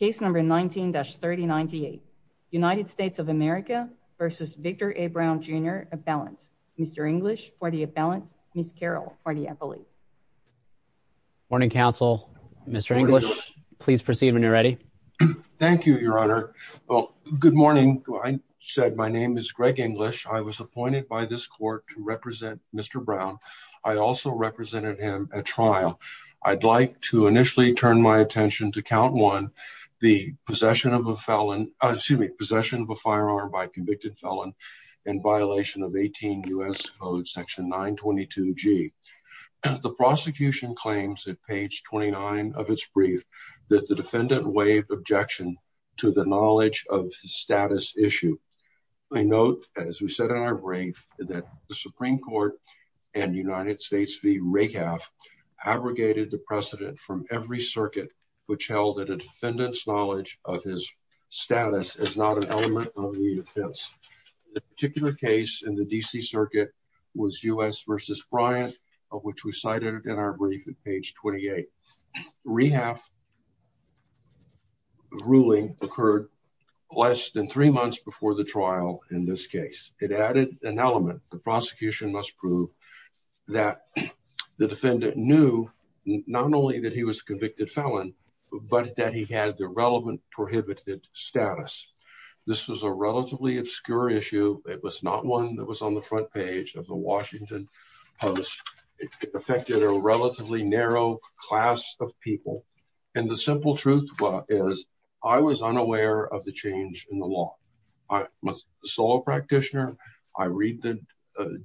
Appellant, Mr. English for the appellant, Ms. Carroll for the appellate. Morning, counsel. Mr. English, please proceed when you're ready. Thank you, your honor. Well, good morning. I said my name is Greg English. I was appointed by this court to represent Mr. Brown. I also represented him at trial. I'd like to initially turn my attention to count one, the possession of a felon assuming possession of a firearm by convicted felon and violation of 18 U.S. Code section 922 G. The prosecution claims at page 29 of its brief that the defendant waived objection to the knowledge of status issue. I note, as we said in our brief, that the Supreme Court and United States v. Of which we cited in our brief at page 28. Rehab ruling occurred less than three months before the trial. In this case, it added an element. The prosecution must prove that the defendant knew not only that he was convicted felon, but that he had the relevant prohibited status. This was a relatively obscure issue. It was not one that was on the front page of the Washington Post. It affected a relatively narrow class of people. And the simple truth is I was unaware of the change in the law. I was a solo practitioner. I read the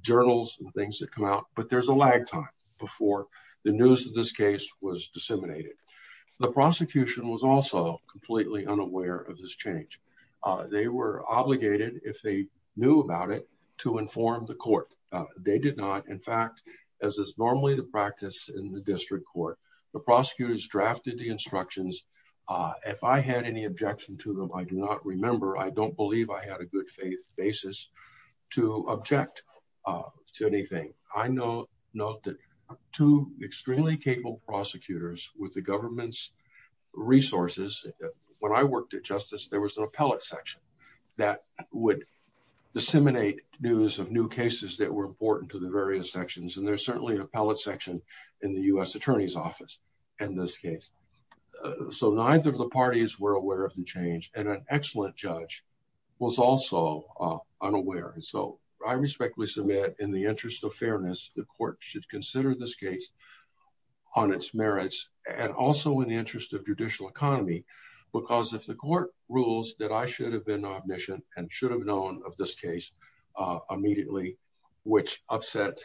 journals and things that come out, but there's a lag time before the news of this case was disseminated. The prosecution was also completely unaware of this change. They were obligated, if they knew about it, to inform the court. They did not. In fact, as is normally the practice in the district court, the prosecutors drafted the instructions. If I had any objection to them, I do not remember. I don't believe I had a good faith basis to object to anything. I note that two extremely capable prosecutors with the government's resources. When I worked at Justice, there was an appellate section that would disseminate news of new cases that were important to the various sections. And there's certainly an appellate section in the U.S. attorney's office in this case. So neither of the parties were aware of the change. And an excellent judge was also unaware. And so I respectfully submit in the interest of fairness, the court should consider this case on its merits and also in the interest of judicial economy, because if the court rules that I should have been omniscient and should have known of this case immediately, which upset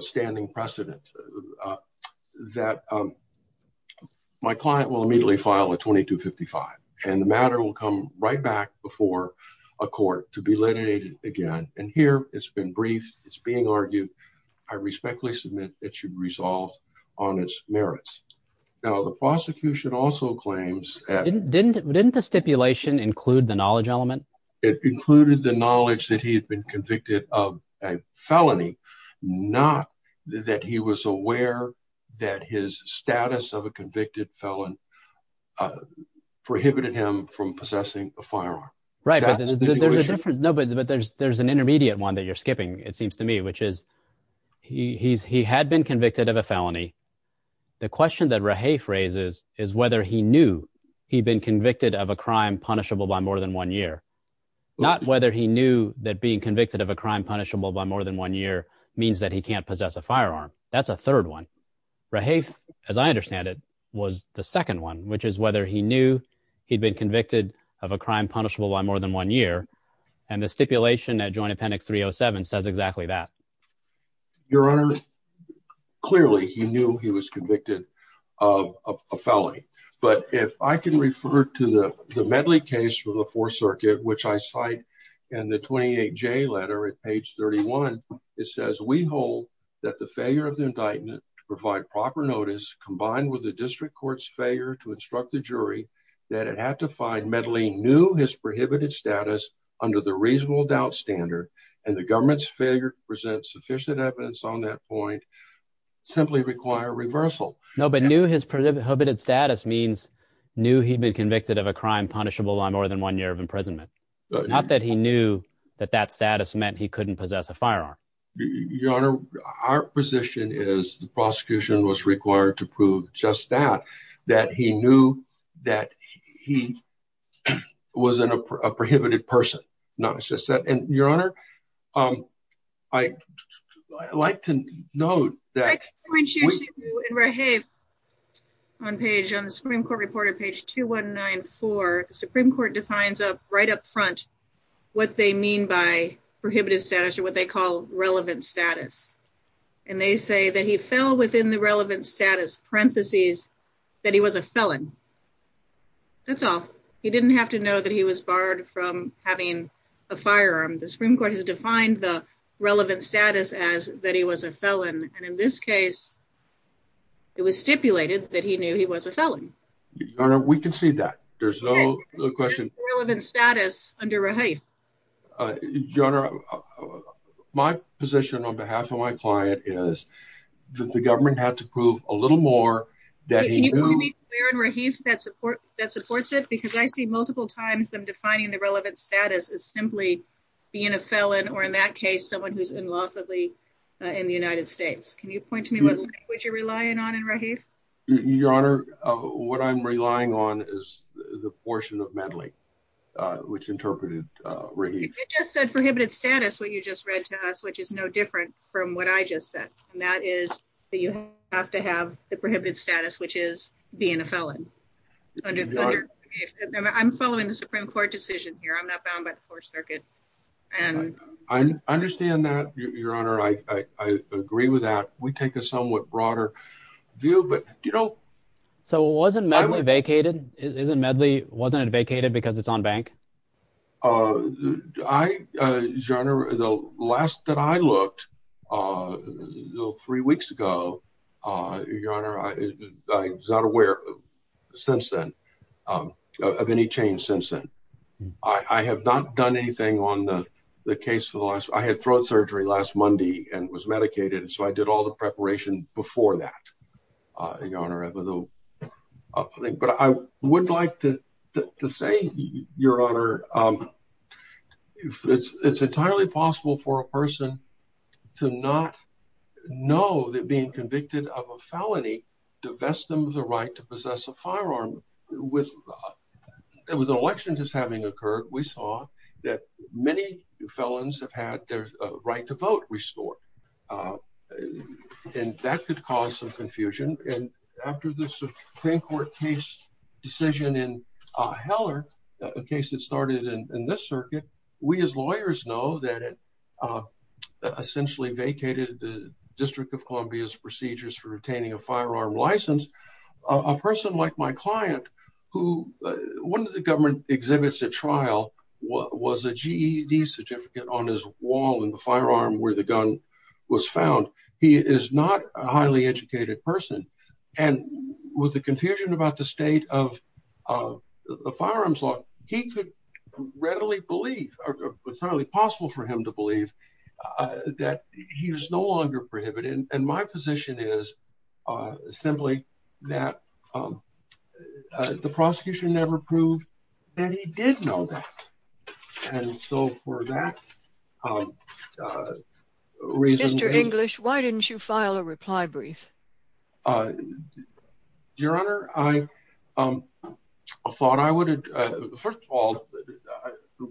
standing precedent, that my client will immediately file a 2255. And the matter will come right back before a court to be litigated again. And here it's been briefed. It's being argued. I respectfully submit it should be resolved on its merits. Now, the prosecution also claims that didn't didn't the stipulation include the knowledge element? It included the knowledge that he had been convicted of a felony, not that he was aware that his status of a convicted felon prohibited him from possessing a firearm. Right. There's a difference. No, but there's there's an intermediate one that you're skipping, it seems to me, which is he's he had been convicted of a felony. The question that Rahay phrases is whether he knew he'd been convicted of a crime punishable by more than one year, not whether he knew that being convicted of a crime punishable by more than one year means that he can't possess a firearm. That's a third one. Rahay, as I understand it, was the second one, which is whether he knew he'd been convicted of a crime punishable by more than one year. And the stipulation that Joint Appendix 307 says exactly that. Your Honor, clearly, he knew he was convicted of a felony. But if I can refer to the medley case for the Fourth Circuit, which I cite in the 28 J letter at page 31, it says we hold that the failure of the indictment to provide proper notice, combined with the district court's failure to instruct the jury that it had to find Medley knew his prohibited status under the reasonable doubt standard and the government's failure to present sufficient evidence on that point simply require reversal. No, but knew his prohibited status means knew he'd been convicted of a crime punishable by more than one year of imprisonment. Not that he knew that that status meant he couldn't possess a firearm. Your Honor, our position is the prosecution was required to prove just that, that he knew that he wasn't a prohibited person. Your Honor, I like to know that. Hey, on page on the Supreme Court reported page 2194 Supreme Court defines up right up front what they mean by prohibited status or what they call relevant status. And they say that he fell within the relevant status parentheses, that he was a felon. That's all he didn't have to know that he was barred from having a firearm. The Supreme Court has defined the relevant status as that he was a felon. And in this case, it was stipulated that he knew he was a felon. We can see that there's no question relevant status under a height. Your Honor, my position on behalf of my client is that the government had to prove a little more that he knew that support that supports it because I see multiple times them defining the relevant status is simply being a felon or in that case, someone who's in lawfully in the United States. Can you point to me what you're relying on and right here. Your Honor, what I'm relying on is the portion of medley, which interpreted. Just said prohibited status what you just read to us which is no different from what I just said, and that is, you have to have the prohibited status which is being a felon. I'm following the Supreme Court decision here. I'm not bound by the Fourth Circuit. And I understand that, Your Honor. I agree with that. We take a somewhat broader view. But, you know, so it wasn't medley vacated isn't medley wasn't vacated because it's on bank. I general the last that I looked three weeks ago. Your Honor, I was not aware since then of any change since then. I have not done anything on the case for the last I had throat surgery last Monday and was medicated so I did all the preparation before that. But I would like to say, Your Honor, it's entirely possible for a person to not know that being convicted of a felony divest them of the right to possess a firearm with it was an election just having occurred. We saw that many felons have had their right to vote restored. And that could cause some confusion. And after this Supreme Court case decision in Heller, a case that started in this circuit, we as lawyers know that it essentially vacated the District of Columbia's procedures for obtaining a firearm license. A person like my client who one of the government exhibits a trial was a GED certificate on his wall and the firearm where the gun was found. He is not a highly educated person. And with the confusion about the state of the firearms law, he could readily believe it's only possible for him to believe that he was no longer prohibited. And my position is simply that the prosecution never proved that he did know that. And so for that reason, Mr. Your Honor, I thought I would. First of all, I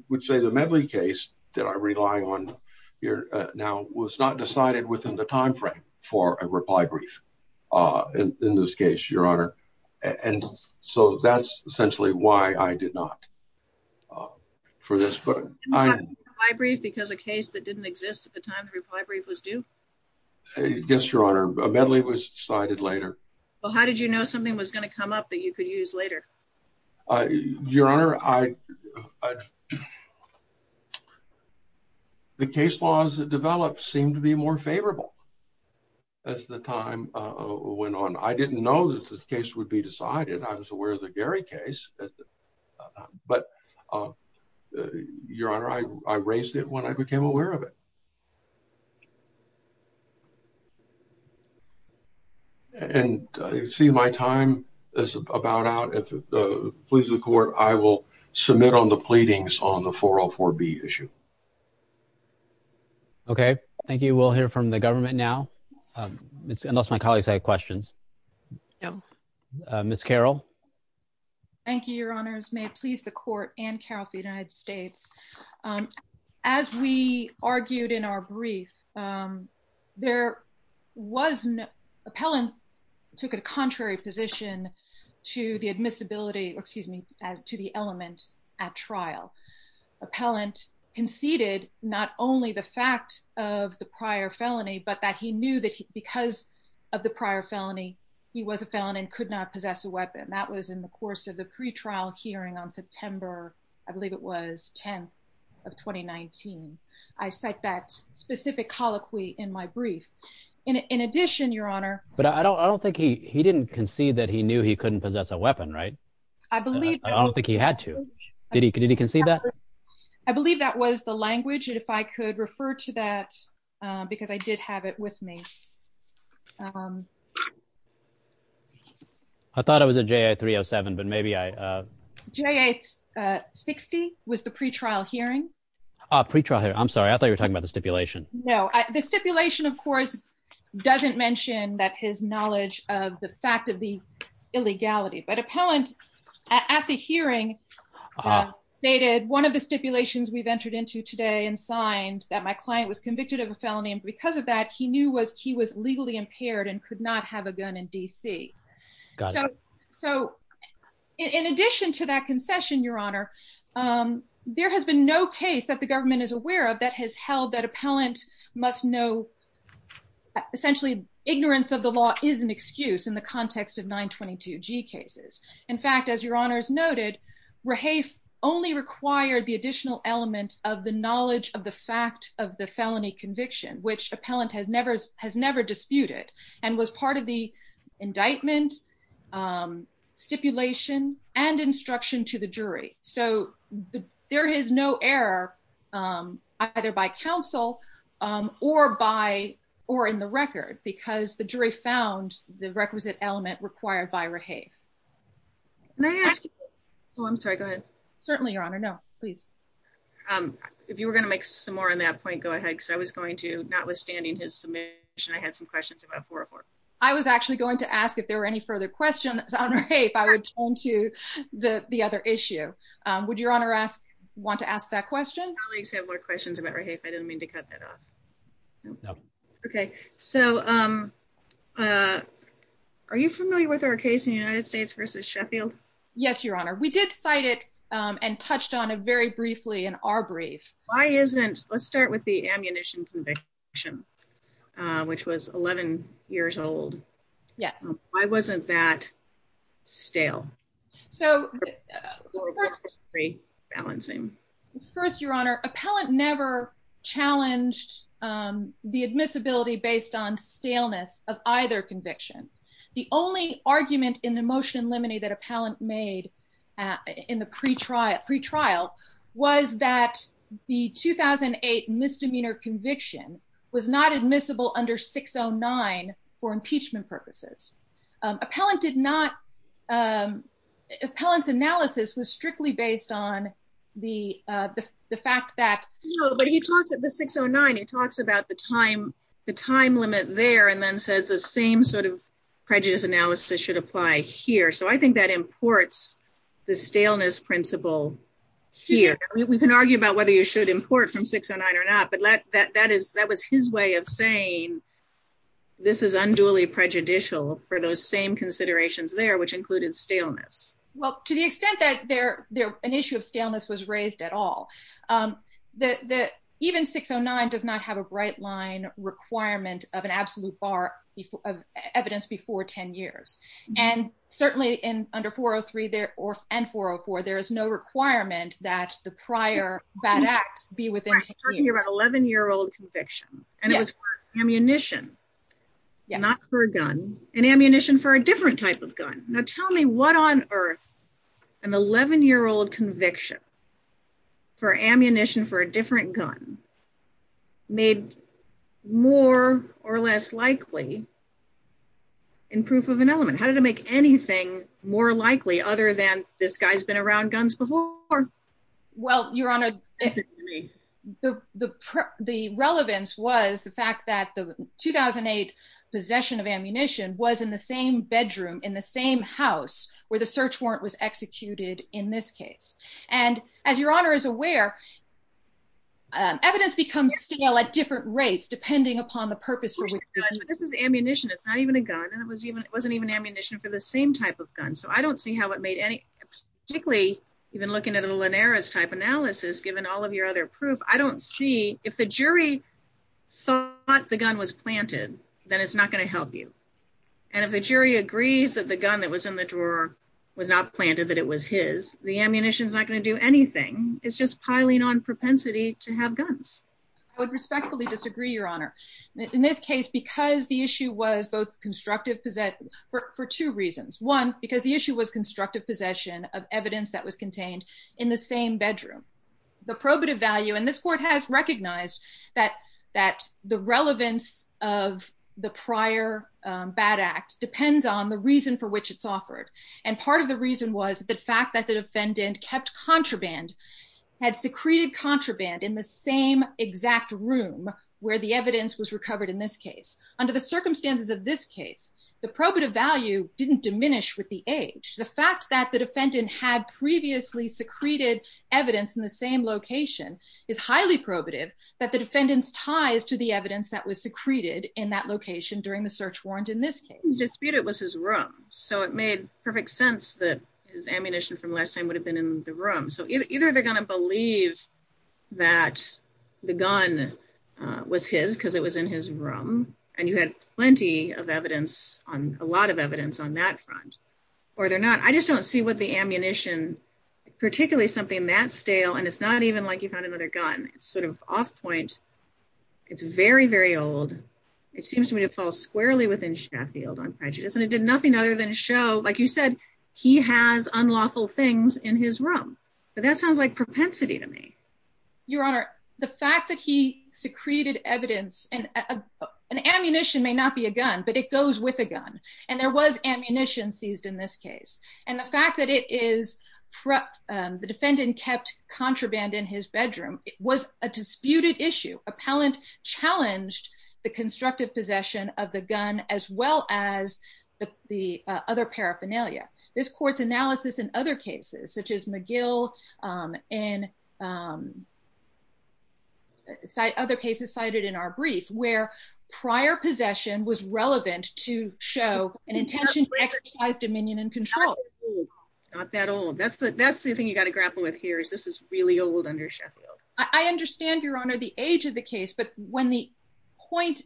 would say the medley case that I rely on here now was not decided within the time frame for a reply brief in this case, Your Honor. And so that's essentially why I did not for this, but I brief because a case that didn't exist at the time reply brief was due. Yes, Your Honor, a medley was cited later. Well, how did you know something was going to come up that you could use later? Your Honor, I. The case laws that develop seem to be more favorable. As the time went on, I didn't know that this case would be decided. I was aware of the Gary case. But, Your Honor, I raised it when I became aware of it. And see, my time is about out. If it pleases the court, I will submit on the pleadings on the 404 B issue. OK, thank you. We'll hear from the government now. Unless my colleagues had questions. Miss Carol. Thank you, Your Honors. May it please the court and care of the United States. As we argued in our brief, there was an appellant took a contrary position to the admissibility. Excuse me. At trial, appellant conceded not only the fact of the prior felony, but that he knew that because of the prior felony, he was a felon and could not possess a weapon. That was in the course of the pretrial hearing on September. I believe it was 10th of 2019. I cite that specific colloquy in my brief. In addition, Your Honor. But I don't I don't think he he didn't concede that he knew he couldn't possess a weapon. Right. I believe I don't think he had to. Did he? Did he concede that? I believe that was the language. And if I could refer to that because I did have it with me. I thought I was a J.A. three or seven, but maybe I J.A. 60 was the pretrial hearing. Pretrial here. I'm sorry. I thought you were talking about the stipulation. No, the stipulation, of course, doesn't mention that his knowledge of the fact of the illegality. But appellant at the hearing stated one of the stipulations we've entered into today and signed that my client was convicted of a felony. And because of that, he knew was he was legally impaired and could not have a gun in D.C. So in addition to that concession, Your Honor, there has been no case that the government is aware of that has held that appellant must know. Essentially, ignorance of the law is an excuse in the context of 922 G cases. In fact, as Your Honor's noted, Rahaf only required the additional element of the knowledge of the fact of the felony conviction, which appellant has never has never disputed and was part of the indictment stipulation and instruction to the jury. So there is no error either by counsel or by or in the record because the jury found the requisite element required by Rahaf. So I'm sorry. Certainly, Your Honor. No, please. If you were going to make some more on that point, go ahead, because I was going to notwithstanding his submission, I had some questions. I was actually going to ask if there were any further questions on rape. I would turn to the other issue. Would Your Honor ask want to ask that question? I have more questions about rape. I didn't mean to cut that off. OK, so are you familiar with our case in the United States versus Sheffield? Yes, Your Honor. We did cite it and touched on it very briefly in our brief. Why isn't let's start with the ammunition conviction, which was 11 years old. Yes. I wasn't that stale. So balancing first, Your Honor. Appellant never challenged the admissibility based on staleness of either conviction. The only argument in the motion limine that appellant made in the pretrial pretrial was that the 2008 misdemeanor conviction was not admissible under 609 for impeachment purposes. Appellant did not. Appellant's analysis was strictly based on the fact that. But he talks at the 609, he talks about the time the time limit there and then says the same sort of prejudice analysis should apply here. So I think that imports the staleness principle here. We can argue about whether you should import from 609 or not. But that that is that was his way of saying this is unduly prejudicial for those same considerations there, which included staleness. Well, to the extent that they're they're an issue of staleness was raised at all. The even 609 does not have a bright line requirement of an absolute bar of evidence before 10 years. And certainly in under 403 there or and 404, there is no requirement that the prior bad act be within your 11 year old conviction. And it was ammunition, not for a gun and ammunition for a different type of gun. Now tell me what on earth an 11 year old conviction for ammunition for a different gun made more or less likely in proof of an element. How did it make anything more likely other than this guy's been around guns before? Well, Your Honor, the the the relevance was the fact that the 2008 possession of ammunition was in the same bedroom in the same house where the search warrant was executed in this case. And as Your Honor is aware, evidence becomes still at different rates depending upon the purpose. This is ammunition. It's not even a gun. And it was even it wasn't even ammunition for the same type of gun. So I don't see how it made any particularly even looking at a Linares type analysis, given all of your other proof. I don't see if the jury thought the gun was planted, then it's not going to help you. And if the jury agrees that the gun that was in the drawer was not planted, that it was his, the ammunition is not going to do anything. It's just piling on propensity to have guns. I would respectfully disagree, Your Honor. In this case, because the issue was both constructive for two reasons. One, because the issue was constructive possession of evidence that was contained in the same bedroom. The probative value in this court has recognized that that the relevance of the prior bad act depends on the reason for which it's offered. And part of the reason was the fact that the defendant kept contraband, had secreted contraband in the same exact room where the evidence was recovered in this case. Under the circumstances of this case, the probative value didn't diminish with the age. The fact that the defendant had previously secreted evidence in the same location is highly probative that the defendant's ties to the evidence that was secreted in that location during the search warrant in this case. In the defendant's dispute, it was his room. So it made perfect sense that his ammunition from last time would have been in the room. So either they're going to believe that the gun was his because it was in his room, and you had plenty of evidence on a lot of evidence on that front, or they're not. I just don't see what the ammunition, particularly something that stale and it's not even like you found another gun, it's sort of off point. It's very, very old. It seems to me to fall squarely within Sheffield on prejudice and it did nothing other than show like you said he has unlawful things in his room, but that sounds like propensity to me. An ammunition may not be a gun, but it goes with a gun, and there was ammunition seized in this case, and the fact that the defendant kept contraband in his bedroom was a disputed issue. Appellant challenged the constructive possession of the gun as well as the other paraphernalia. This court's analysis and other cases such as McGill and other cases cited in our brief where prior possession was relevant to show an intention to exercise dominion and control. Not that old that's the that's the thing you got to grapple with here is this is really old under Sheffield, I understand your honor the age of the case but when the point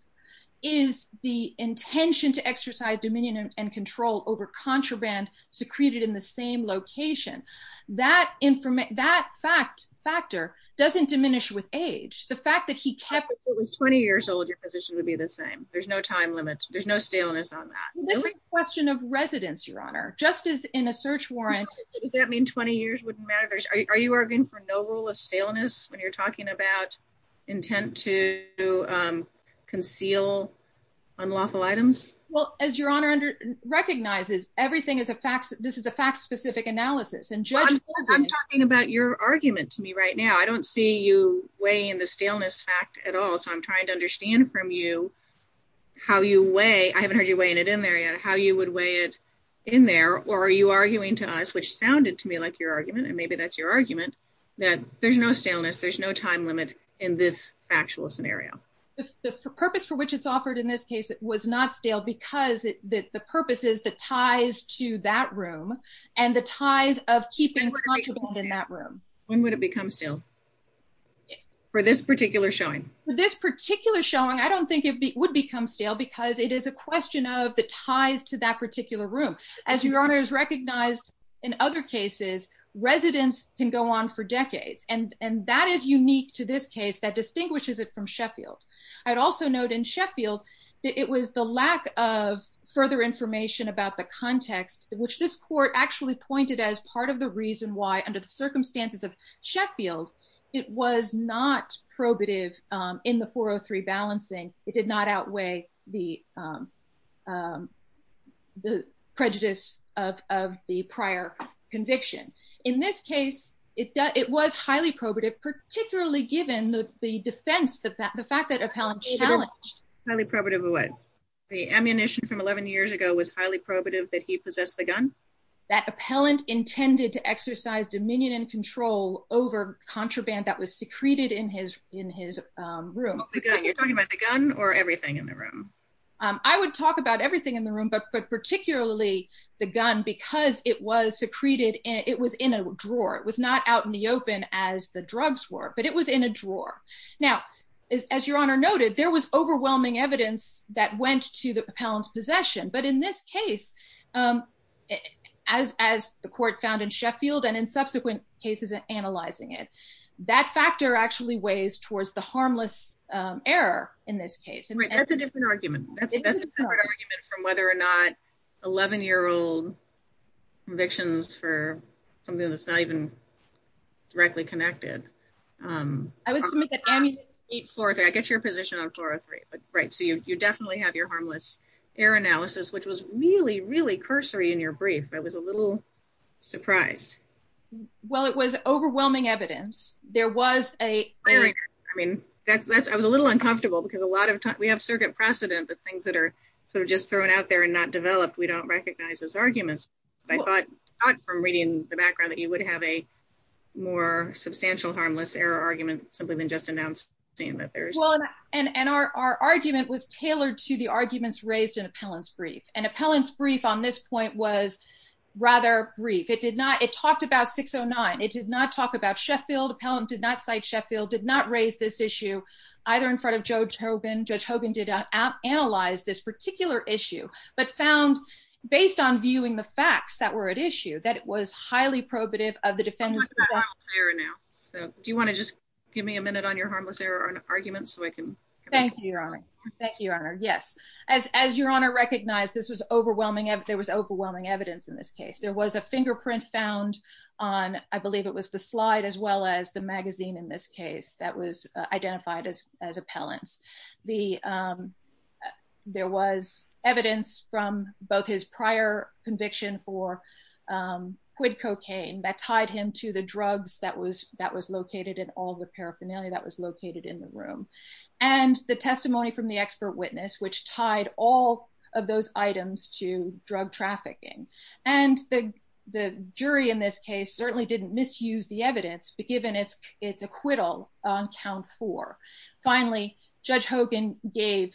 is the intention to exercise dominion and control over contraband secreted in the same location that information that fact factor doesn't diminish with age, the fact that he kept it was 20 years old your position would be the same, there's no time limit, there's no staleness on that question of residence your honor justice in a search warrant. Does that mean 20 years wouldn't matter. Are you arguing for no rule of staleness when you're talking about intent to conceal unlawful items. Well, as your honor under recognizes everything is a fact that this is a fact specific analysis and john I'm talking about your argument to me right now I don't see you weigh in the staleness fact at all so I'm trying to understand from you how you weigh I haven't heard you weighing it in there yet how you would weigh it in there, or are you arguing to us which sounded to me like your argument and maybe that's your argument that there's no staleness there's no time limit in this actual scenario, the purpose for which it's offered in this case it was not stale because that the purposes that ties to that room, and the ties of keeping in that room, when would it residents can go on for decades and and that is unique to this case that distinguishes it from Sheffield. I'd also note in Sheffield, it was the lack of further information about the context, which this court actually pointed as part of the reason why under the circumstances of Sheffield. It was not probative in the 403 balancing, it did not outweigh the, the prejudice of the prior conviction. In this case, it was highly probative particularly given the defense the fact the fact that appellant challenged what the ammunition from 11 years ago was highly probative that he possessed the gun that appellant intended to exercise dominion and control over contraband that was secreted in his in his room, you're talking about the gun or everything in the room. I would talk about everything in the room but but particularly the gun because it was secreted, it was in a drawer it was not out in the open, as the drugs were but it was in a drawer. Now, as your honor noted there was overwhelming evidence that went to the pounds possession but in this case, as, as the court found in Sheffield and in subsequent cases and analyzing it. That factor actually weighs towards the harmless error. In this case, and that's a different argument from whether or not 11 year old convictions for something that's not even directly connected. I get your position on 403 but right so you definitely have your harmless error analysis which was really really cursory in your brief I was a little surprised. Well, it was overwhelming evidence, there was a, I mean, that's that's I was a little uncomfortable because a lot of times we have circuit precedent that things that are sort of just thrown out there and not developed we don't recognize this arguments. I thought from reading the background that you would have a more substantial harmless error argument, simply than just announced, saying that there's, and our argument was tailored to the arguments raised in appellants brief and appellants brief on this point was rather brief it did not it talked about 609 it did not talk about Sheffield appellant did not cite Sheffield did not raise this issue, either in front of Joe Jogan Joe Jogan did not analyze this particular issue, but found based on viewing the facts that were at issue that it was highly prohibitive of the defense. Now, so do you want to just give me a minute on your harmless error on arguments so I can thank you. Thank you. Yes, as your honor recognize this was overwhelming if there was overwhelming evidence in this case there was a fingerprint found on, I believe it was the slide as well as the magazine in this case that was identified as as appellants. The. There was evidence from both his prior conviction for quit cocaine that tied him to the drugs that was that was located in all the paraphernalia that was located in the room, and the testimony from the expert witness which tied, all of those items to drug trafficking, and the, the jury in this case certainly didn't misuse the evidence but given it's it's acquittal on count for. Finally, Judge Hogan gave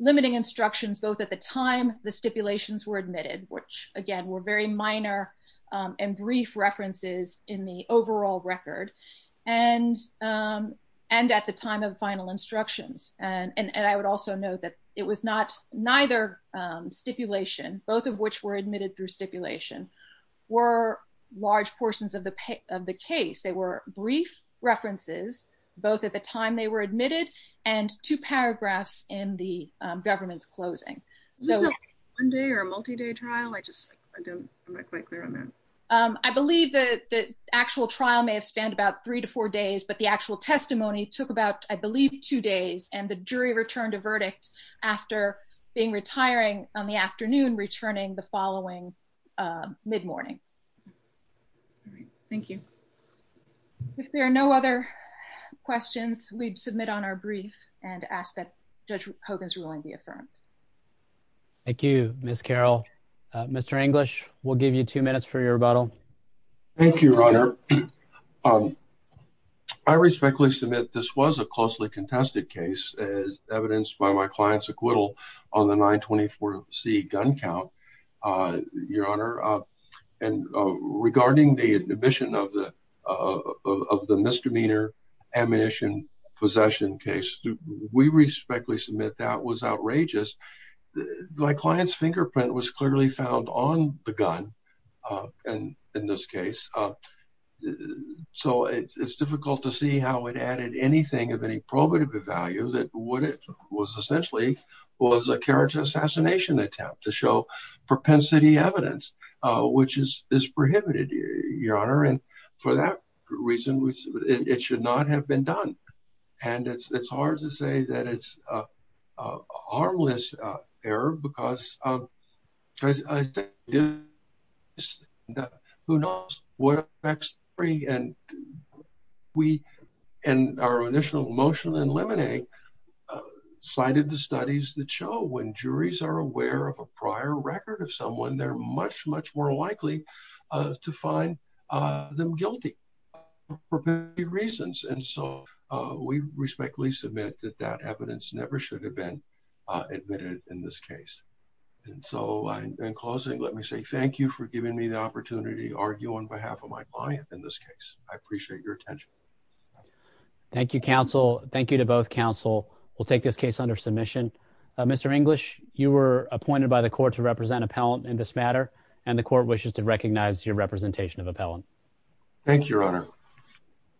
limiting instructions both at the time, the stipulations were admitted, which, again, were very minor and brief were admitted through stipulation were large portions of the of the case they were brief references, both at the time they were admitted, and two paragraphs in the government's closing. One day or a multi day trial I just don't quite clear on that. I believe that the actual trial may have spent about three to four days but the actual testimony took about, I believe, two days and the jury returned a verdict. After being retiring on the afternoon returning the following mid morning. Thank you. If there are no other questions, we'd submit on our brief and ask that Judge Hogan's ruling be affirmed. Thank you, Miss Carol. Mr English will give you two minutes for your rebuttal. I respectfully submit this was a closely contested case as evidenced by my clients acquittal on the 924 c gun count. Your Honor, and regarding the admission of the of the misdemeanor ammunition possession case, we respectfully submit that was outrageous. My client's fingerprint was clearly found on the gun. And in this case. So it's difficult to see how it added anything of any probative value that what it was essentially was a character assassination attempt to show propensity evidence, which is is prohibited, Your Honor, and for that reason, which it should not have been done. And it's it's hard to say that it's a harmless error because of who knows what effects three and we, and our initial emotional and lemonade cited the studies that show when juries are aware of a prior record of someone they're much, much more likely to find them guilty. For reasons and so we respectfully submit that that evidence never should have been admitted in this case. And so, in closing, let me say thank you for giving me the opportunity to argue on behalf of my client in this case, I appreciate your attention. Thank you counsel, thank you to both counsel will take this case under submission. Mr English, you were appointed by the court to represent appellant in this matter, and the court wishes to recognize your representation of appellant. Thank you, Your Honor.